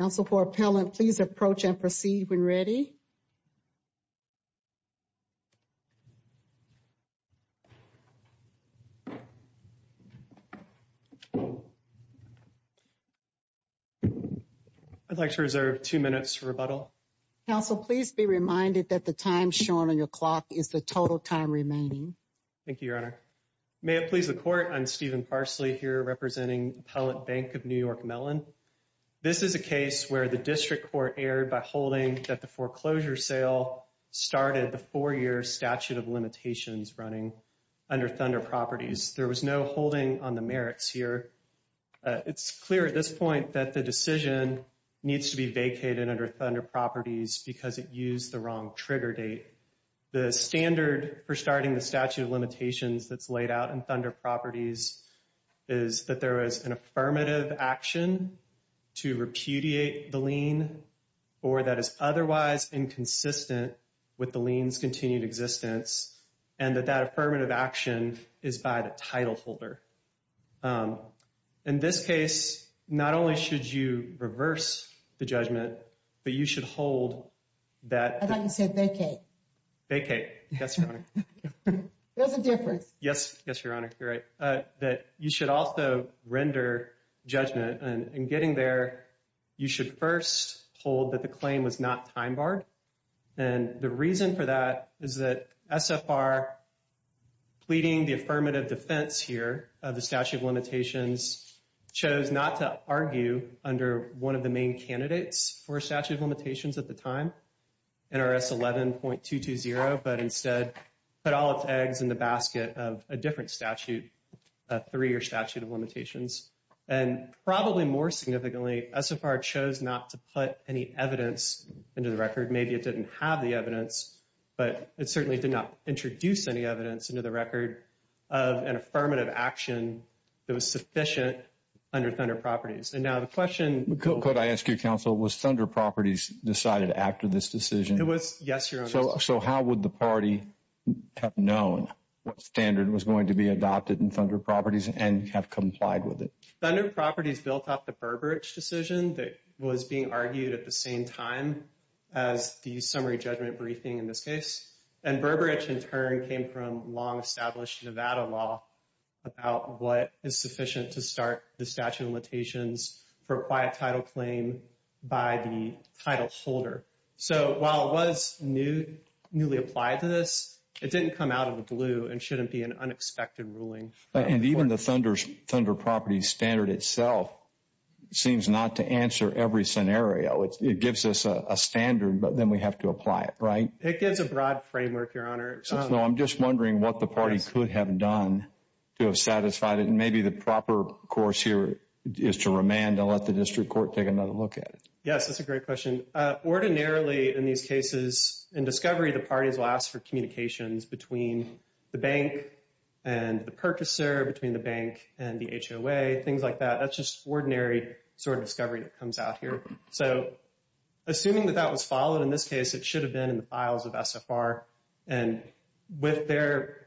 Counsel, for appellant, please approach and proceed when ready. I'd like to reserve two minutes for rebuttal. Counsel, please be reminded that the time shown on your clock is the total time remaining. Thank you, Your Honor. May it please the Court, I'm Stephen Parsley here representing Appellant Bank of New York Mellon. This is a case where the District Court erred by holding that the foreclosure sale started the four-year statute of limitations running under Thunder Properties. There was no holding on the merits here. It's clear at this point that the decision needs to be vacated under Thunder Properties because it used the wrong trigger date. The standard for starting the statute of limitations that's laid out in Thunder Properties is that there is an affirmative action to repudiate the lien or that is otherwise inconsistent with the lien's continued existence and that that affirmative action is by the title holder. In this case, not only should you reverse the judgment, but you should hold that... I thought you said vacate. Vacate. Yes, Your Honor. There's a difference. Yes, Your Honor. You're right. That you should also render judgment and in getting there, you should first hold that the claim was not time barred. And the reason for that is that SFR pleading the affirmative defense here of the statute of limitations chose not to argue under one of the main candidates for statute of limitations at the time, NRS 11.220, but instead put all its eggs in the basket of a different statute, a three-year statute of limitations. And probably more significantly, SFR chose not to put any evidence into the record. Maybe it didn't have the evidence, but it certainly did not introduce any evidence into the record of an affirmative action that was sufficient under Thunder Properties. And now the question... Could I ask you, Counsel, was Thunder Properties decided after this decision? It was, yes, Your Honor. So how would the party have known what standard was going to be adopted in Thunder Properties and have complied with it? Thunder Properties built off the Burbridge decision that was being argued at the same time as the summary judgment briefing in this case. And Burbridge, in turn, came from long-established Nevada law about what is sufficient to start the statute of limitations for a quiet title claim by the title holder. So while it was newly applied to this, it didn't come out of the blue and shouldn't be an unexpected ruling. And even the Thunder Properties standard itself seems not to answer every scenario. It gives us a standard, but then we have to apply it, right? It gives a broad framework, Your Honor. So I'm just wondering what the party could have done to have satisfied it. And maybe the proper course here is to remand and let the district court take another look at it. Yes, that's a great question. Ordinarily, in these cases, in discovery, the parties will ask for communications between the bank and the purchaser, between the bank and the HOA, things like that. That's just ordinary sort of discovery that comes out here. So assuming that that was followed in this case, it should have been in the files of SFR. And with their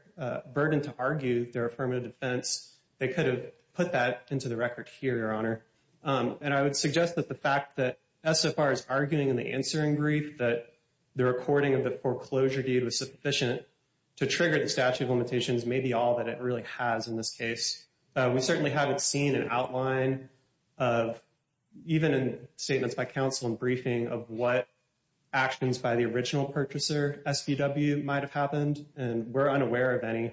burden to argue their affirmative defense, they could have put that into the record here, Your Honor. And I would suggest that the fact that SFR is arguing in the answering brief that the recording of the foreclosure deed was sufficient to trigger the statute of limitations may be all that it really has in this case. We certainly haven't seen an outline of, even in statements by counsel and briefing, of what actions by the original purchaser, SVW, might have happened. And we're unaware of any.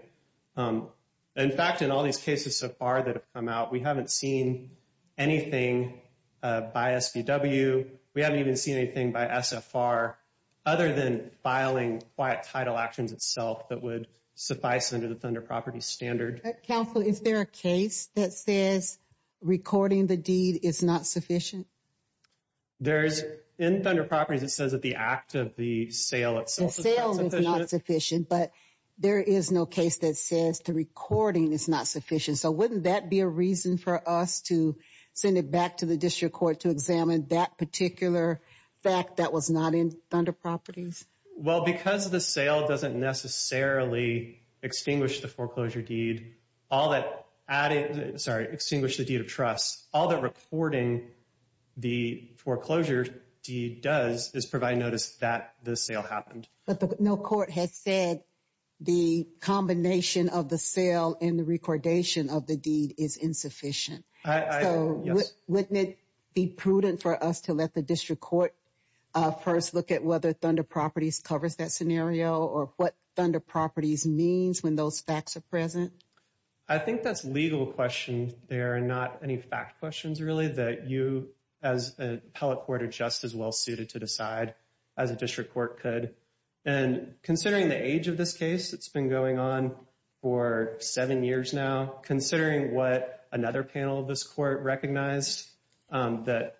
In fact, in all these cases so far that have come out, we haven't seen anything by SVW. We haven't even seen anything by SFR other than filing quiet title actions itself that would suffice under the Thunder Properties standard. Counsel, is there a case that says recording the deed is not sufficient? There is. In Thunder Properties, it says that the act of the sale itself is not sufficient. But there is no case that says the recording is not sufficient. So wouldn't that be a reason for us to send it back to the district court to examine that particular fact that was not in Thunder Properties? Well, because the sale doesn't necessarily extinguish the foreclosure deed, all that added, sorry, extinguish the deed of trust, all the recording the foreclosure deed does is provide notice that the sale happened. But no court has said the combination of the sale and the recordation of the deed is insufficient. So wouldn't it be prudent for us to let the district court first look at whether Thunder Properties covers that scenario or what Thunder Properties means when those facts are present? I think that's a legal question there and not any fact questions really that you as an appellate court are just as well suited to decide as a district court could. And considering the age of this case, it's been going on for seven years now, considering what another panel of this court recognized, that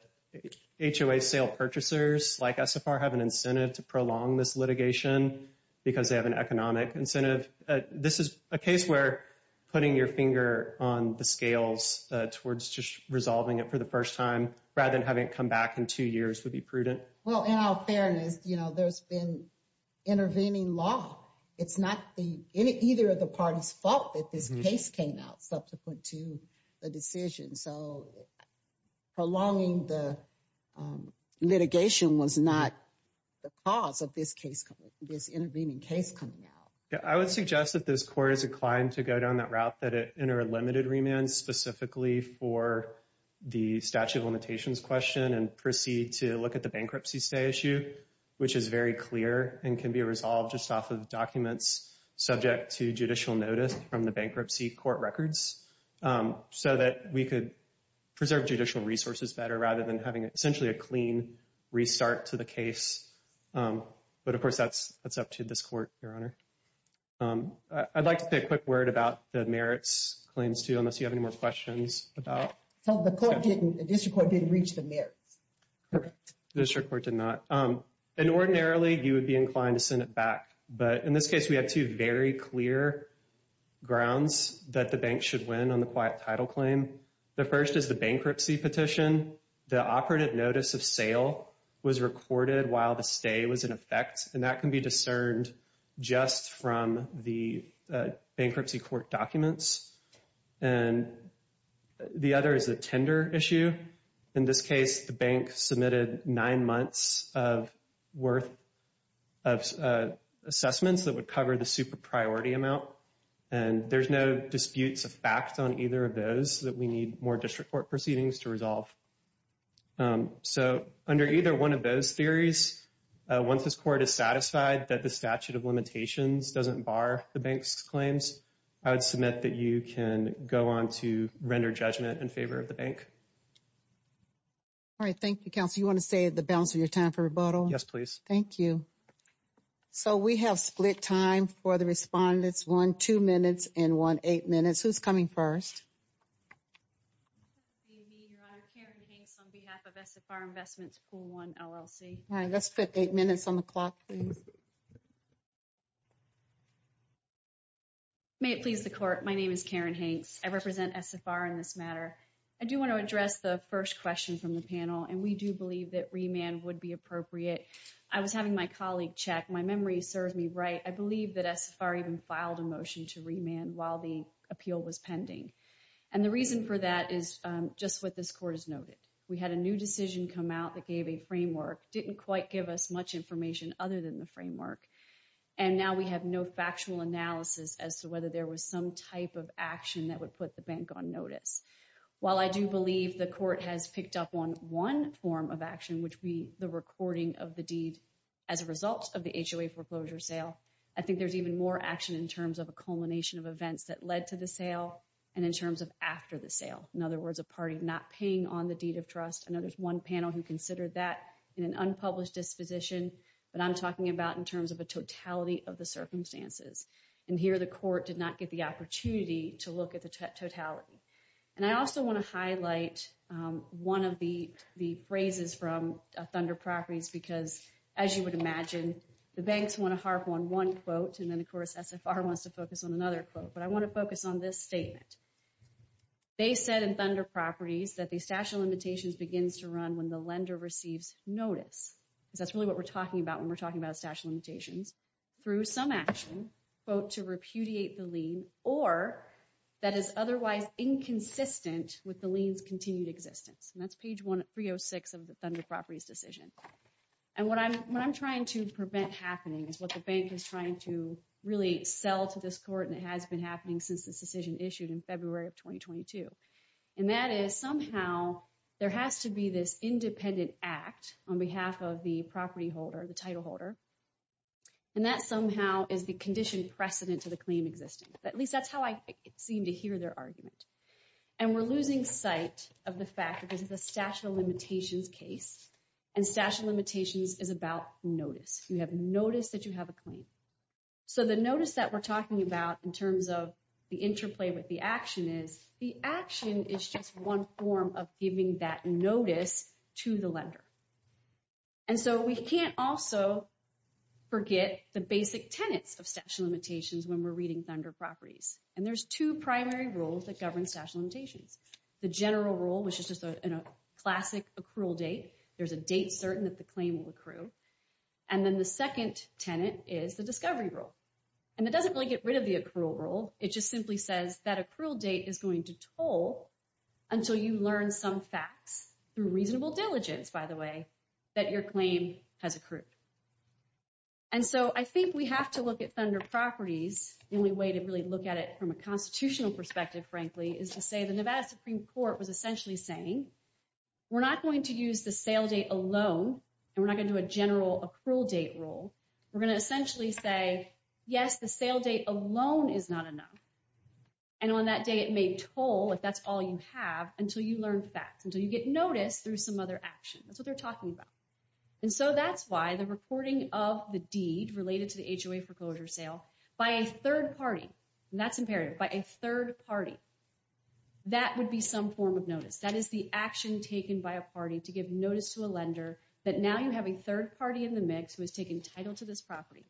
HOA sale purchasers like SFR have an incentive to prolong this litigation because they have an economic incentive. This is a case where putting your finger on the scales towards just resolving it for the first time rather than having it come back in two years would be prudent. Well, in all fairness, there's been intervening law. It's not either of the parties' fault that this case came out subsequent to the decision. So prolonging the litigation was not the cause of this intervening case coming out. I would suggest that this court is inclined to go down that route that it entered limited remand specifically for the statute of limitations question and proceed to look at the bankruptcy stay issue, which is very clear and can be resolved just off of documents subject to judicial notice from the bankruptcy court records so that we could preserve judicial resources better rather than having essentially a clean restart to the case. But, of course, that's up to this court, Your Honor. I'd like to say a quick word about the merits claims, too, unless you have any more questions about. The court didn't, the district court didn't reach the merits. The district court did not. And ordinarily, you would be inclined to send it back. But in this case, we have two very clear grounds that the bank should win on the quiet title claim. The first is the bankruptcy petition. The operative notice of sale was recorded while the stay was in effect. And that can be discerned just from the bankruptcy court documents. And the other is a tender issue. In this case, the bank submitted nine months of worth of assessments that would cover the super priority amount. And there's no disputes of fact on either of those that we need more district court proceedings to resolve. So under either one of those theories, once this court is satisfied that the statute of limitations doesn't bar the bank's claims, I would submit that you can go on to render judgment in favor of the bank. All right, thank you, counsel. You want to say the balance of your time for rebuttal? Yes, please. Thank you. So we have split time for the respondents, one two minutes and one eight minutes. Who's coming first? Me, Your Honor. Karen Hanks on behalf of SFR Investments Pool One LLC. All right, let's put eight minutes on the clock, please. May it please the court. My name is Karen Hanks. I represent SFR in this matter. I do want to address the first question from the panel, and we do believe that remand would be appropriate. I was having my colleague check. My memory serves me right. I believe that SFR even filed a motion to remand while the appeal was pending. And the reason for that is just what this court has noted. We had a new decision come out that gave a framework, didn't quite give us much information other than the framework. And now we have no factual analysis as to whether there was some type of action that would put the bank on notice. While I do believe the court has picked up on one form of action, which would be the recording of the deed as a result of the HOA foreclosure sale, I think there's even more action in terms of a culmination of events that led to the sale and in terms of after the sale. In other words, a party not paying on the deed of trust. I know there's one panel who considered that in an unpublished disposition, but I'm talking about in terms of a totality of the circumstances. And here the court did not get the opportunity to look at the totality. And I also want to highlight one of the phrases from Thunder Properties because, as you would imagine, the banks want to harp on one quote. And then, of course, SFR wants to focus on another quote. But I want to focus on this statement. They said in Thunder Properties that the statute of limitations begins to run when the lender receives notice. Because that's really what we're talking about when we're talking about statute of limitations. through some action, quote, to repudiate the lien, or that is otherwise inconsistent with the lien's continued existence. And that's page 306 of the Thunder Properties decision. And what I'm trying to prevent happening is what the bank is trying to really sell to this court, and it has been happening since this decision issued in February of 2022. And that is somehow there has to be this independent act on behalf of the property holder, the title holder. And that somehow is the condition precedent to the claim existing. At least that's how I seem to hear their argument. And we're losing sight of the fact that this is a statute of limitations case, and statute of limitations is about notice. You have notice that you have a claim. So the notice that we're talking about in terms of the interplay with the action is, the action is just one form of giving that notice to the lender. And so we can't also forget the basic tenets of statute of limitations when we're reading Thunder Properties. And there's two primary rules that govern statute of limitations. The general rule, which is just a classic accrual date. There's a date certain that the claim will accrue. And then the second tenet is the discovery rule. And it doesn't really get rid of the accrual rule. It just simply says that accrual date is going to toll until you learn some facts through reasonable diligence, by the way, that your claim has accrued. And so I think we have to look at Thunder Properties. The only way to really look at it from a constitutional perspective, frankly, is to say the Nevada Supreme Court was essentially saying, we're not going to use the sale date alone, and we're not going to do a general accrual date rule. We're going to essentially say, yes, the sale date alone is not enough. And on that day, it may toll, if that's all you have, until you learn facts, until you get notice through some other action. That's what they're talking about. And so that's why the reporting of the deed related to the HOA foreclosure sale by a third party, and that's imperative, by a third party, that would be some form of notice. That is the action taken by a party to give notice to a lender that now you have a third party in the mix who has taken title to this property.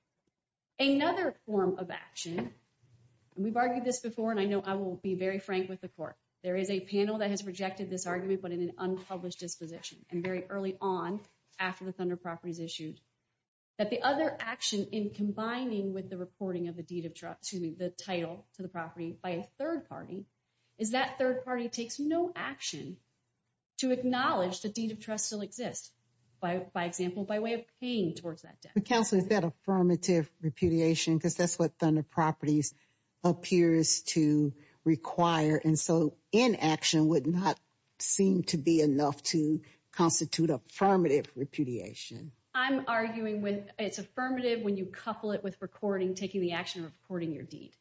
Another form of action, and we've argued this before, and I know I will be very frank with the court. There is a panel that has rejected this argument, but in an unpublished disposition, and very early on, after the Thunder Properties issued, that the other action in combining with the reporting of the deed of trust, excuse me, the title to the property by a third party, is that third party takes no action to acknowledge the deed of trust still exists, by example, by way of paying towards that debt. But Counselor, is that affirmative repudiation? Because that's what Thunder Properties appears to require, and so inaction would not seem to be enough to constitute affirmative repudiation. I'm arguing with it's affirmative when you couple it with recording, taking the action of recording your deed.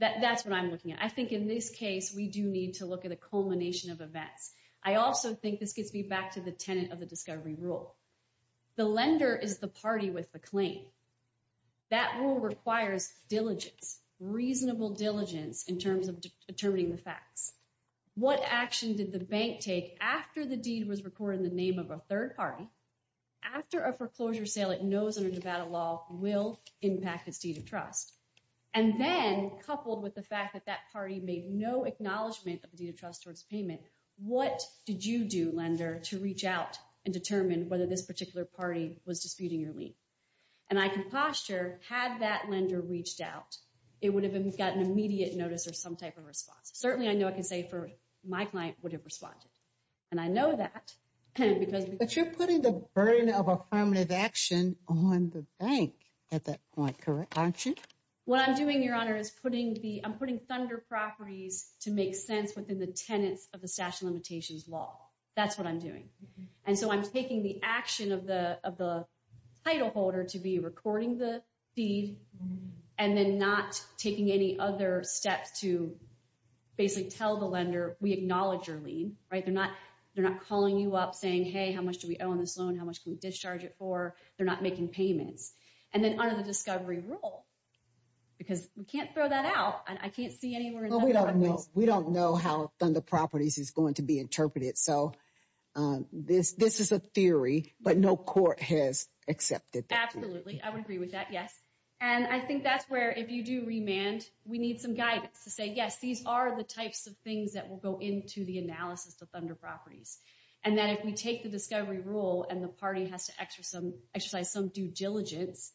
That's what I'm looking at. I think in this case, we do need to look at a culmination of events. I also think this gets me back to the tenet of the discovery rule. The lender is the party with the claim. That rule requires diligence, reasonable diligence, in terms of determining the facts. What action did the bank take after the deed was recorded in the name of a third party? After a foreclosure sale it knows under Nevada law will impact its deed of trust. And then, coupled with the fact that that party made no acknowledgement of the deed of trust towards payment, what did you do, lender, to reach out and determine whether this particular party was disputing your lien? And I can posture, had that lender reached out, it would have gotten immediate notice or some type of response. Certainly, I know I can say, my client would have responded. And I know that. But you're putting the burden of affirmative action on the bank at that point, aren't you? What I'm doing, Your Honor, is I'm putting thunder properties to make sense within the tenets of the stash limitations law. That's what I'm doing. And so I'm taking the action of the title holder to be recording the deed and then not taking any other steps to basically tell the lender, we acknowledge your lien, right? They're not calling you up saying, hey, how much do we owe on this loan? How much can we discharge it for? They're not making payments. And then under the discovery rule, because we can't throw that out. I can't see anywhere in Nevada. We don't know how thunder properties is going to be interpreted. So this is a theory, but no court has accepted that. Absolutely. I would agree with that, yes. And I think that's where, if you do remand, we need some guidance to say, yes, these are the types of things that will go into the analysis of thunder properties. And that if we take the discovery rule and the party has to exercise some due diligence,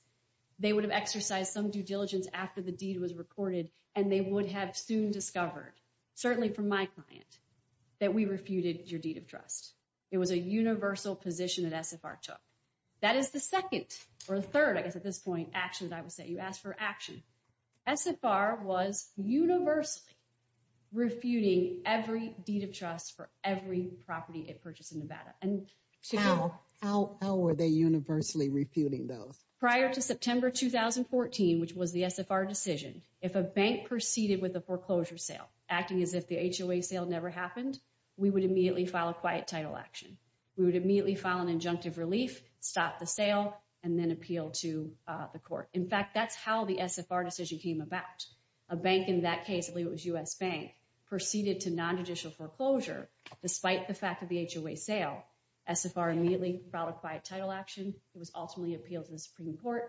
they would have exercised some due diligence after the deed was recorded, and they would have soon discovered, certainly from my client, that we refuted your deed of trust. It was a universal position that SFR took. That is the second or third, I guess, at this point, action that I would say. You asked for action. SFR was universally refuting every deed of trust for every property it purchased in Nevada. How were they universally refuting those? Prior to September 2014, which was the SFR decision, if a bank proceeded with a foreclosure sale, acting as if the HOA sale never happened, we would immediately file a quiet title action. We would immediately file an injunctive relief, stop the sale, and then appeal to the court. In fact, that's how the SFR decision came about. A bank in that case, I believe it was U.S. Bank, proceeded to nonjudicial foreclosure, despite the fact of the HOA sale. SFR immediately filed a quiet title action. It was ultimately appealed to the Supreme Court.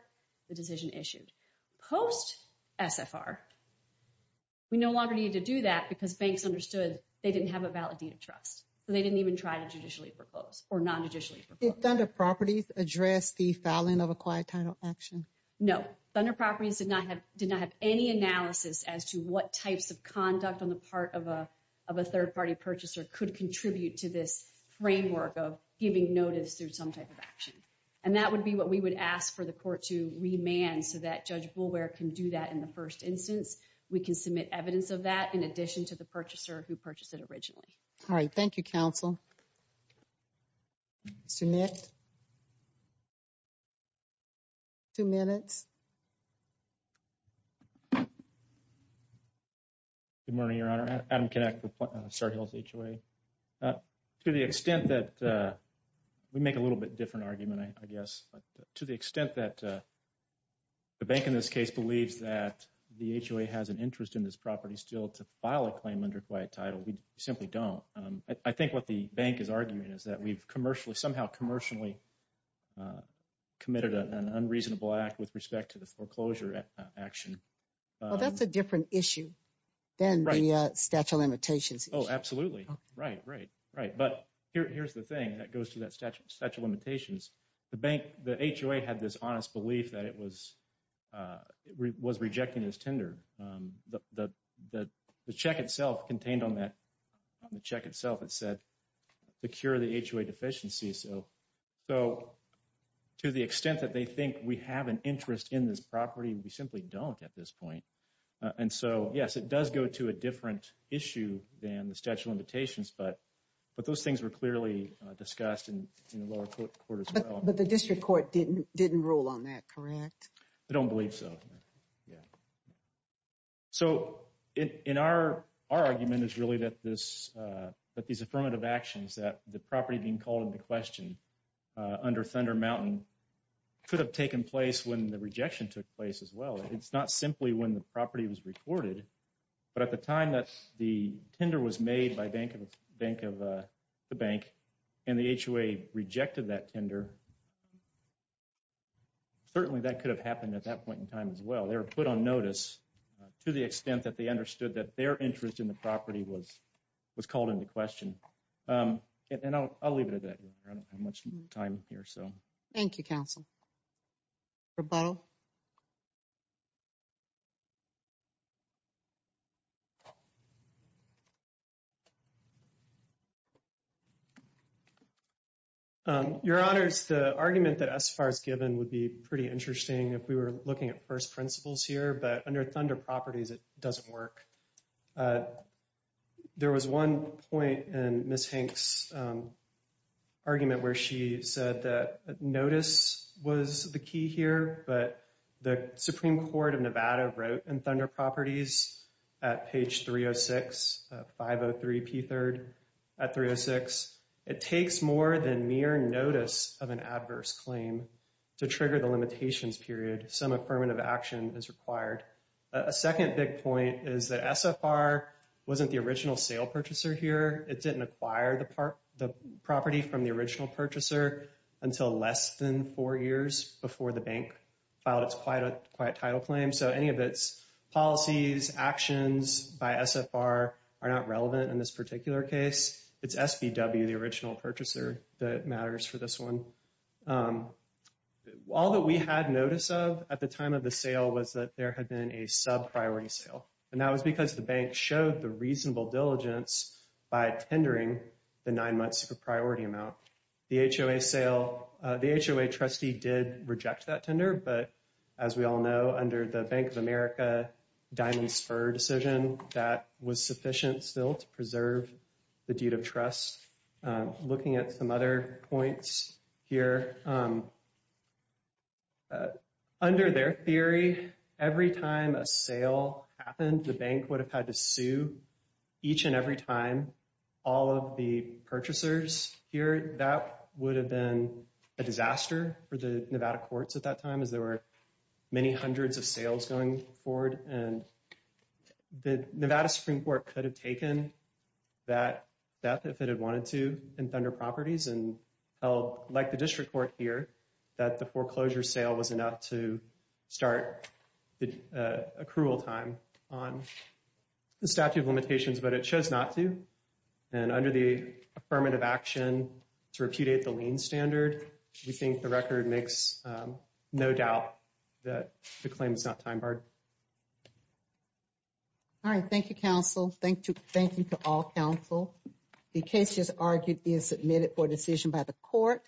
The decision issued. Post-SFR, we no longer needed to do that because banks understood they didn't have a valid deed of trust. They didn't even try to judicially foreclose or nonjudicially foreclose. Did Thunder Properties address the filing of a quiet title action? No. Thunder Properties did not have any analysis as to what types of conduct on the part of a third-party purchaser could contribute to this framework of giving notice through some type of action. And that would be what we would ask for the court to remand, so that Judge Boulware can do that in the first instance. We can submit evidence of that in addition to the purchaser who purchased it originally. All right. Thank you, counsel. Mr. Nick? Two minutes. Good morning, Your Honor. Adam Kinnick with Star Hills HOA. To the extent that we make a little bit different argument, I guess, to the extent that the bank in this case believes that the HOA has an interest in this property still to file a claim under quiet title, we simply don't. I think what the bank is arguing is that we've somehow commercially committed an unreasonable act with respect to the foreclosure action. Well, that's a different issue than the statute of limitations. Oh, absolutely. Right, right, right. But here's the thing that goes to that statute of limitations. The HOA had this honest belief that it was rejecting this tender. The check itself contained on that check itself, it said, secure the HOA deficiency. So to the extent that they think we have an interest in this property, we simply don't at this point. And so, yes, it does go to a different issue than the statute of limitations. But those things were clearly discussed in the lower court as well. But the district court didn't rule on that, correct? I don't believe so. Yeah. So in our argument is really that these affirmative actions that the property being called into question under Thunder Mountain could have taken place when the rejection took place as well. It's not simply when the property was reported. But at the time that the tender was made by Bank of the Bank and the HOA rejected that tender, certainly that could have happened at that point in time as well. They were put on notice to the extent that they understood that their interest in the property was called into question. And I'll leave it at that. I don't have much time here, so. Thank you, counsel. Roboto? Your Honors, the argument that SFAR has given would be pretty interesting if we were looking at first principles here. But under Thunder Properties, it doesn't work. There was one point in Ms. Hanks' argument where she said that notice was the key here. But the Supreme Court of Nevada wrote in Thunder Properties at page 306, 503p3rd at 306, it takes more than mere notice of an adverse claim to trigger the limitations period. Some affirmative action is required. A second big point is that SFAR wasn't the original sale purchaser here. It didn't acquire the property from the original purchaser until less than four years before the bank filed its quiet title claim. So any of its policies, actions by SFAR are not relevant in this particular case. It's SBW, the original purchaser, that matters for this one. All that we had notice of at the time of the sale was that there had been a sub-priority sale. And that was because the bank showed the reasonable diligence by tendering the nine months of priority amount. The HOA sale, the HOA trustee did reject that tender. But as we all know, under the Bank of America Diamond Spur decision, that was sufficient still to preserve the deed of trust. Looking at some other points here, under their theory, every time a sale happened, the bank would have had to sue each and every time all of the purchasers here. That would have been a disaster for the Nevada courts at that time as there were many hundreds of sales going forward. And the Nevada Supreme Court could have taken that if it had wanted to in Thunder Properties. And like the district court here, that the foreclosure sale was enough to start the accrual time on the statute of limitations. But it chose not to. And under the affirmative action to repudiate the lien standard, we think the record makes no doubt that the claim is not time barred. All right. Thank you, counsel. Thank you to all counsel. The case is argued and submitted for decision by the court.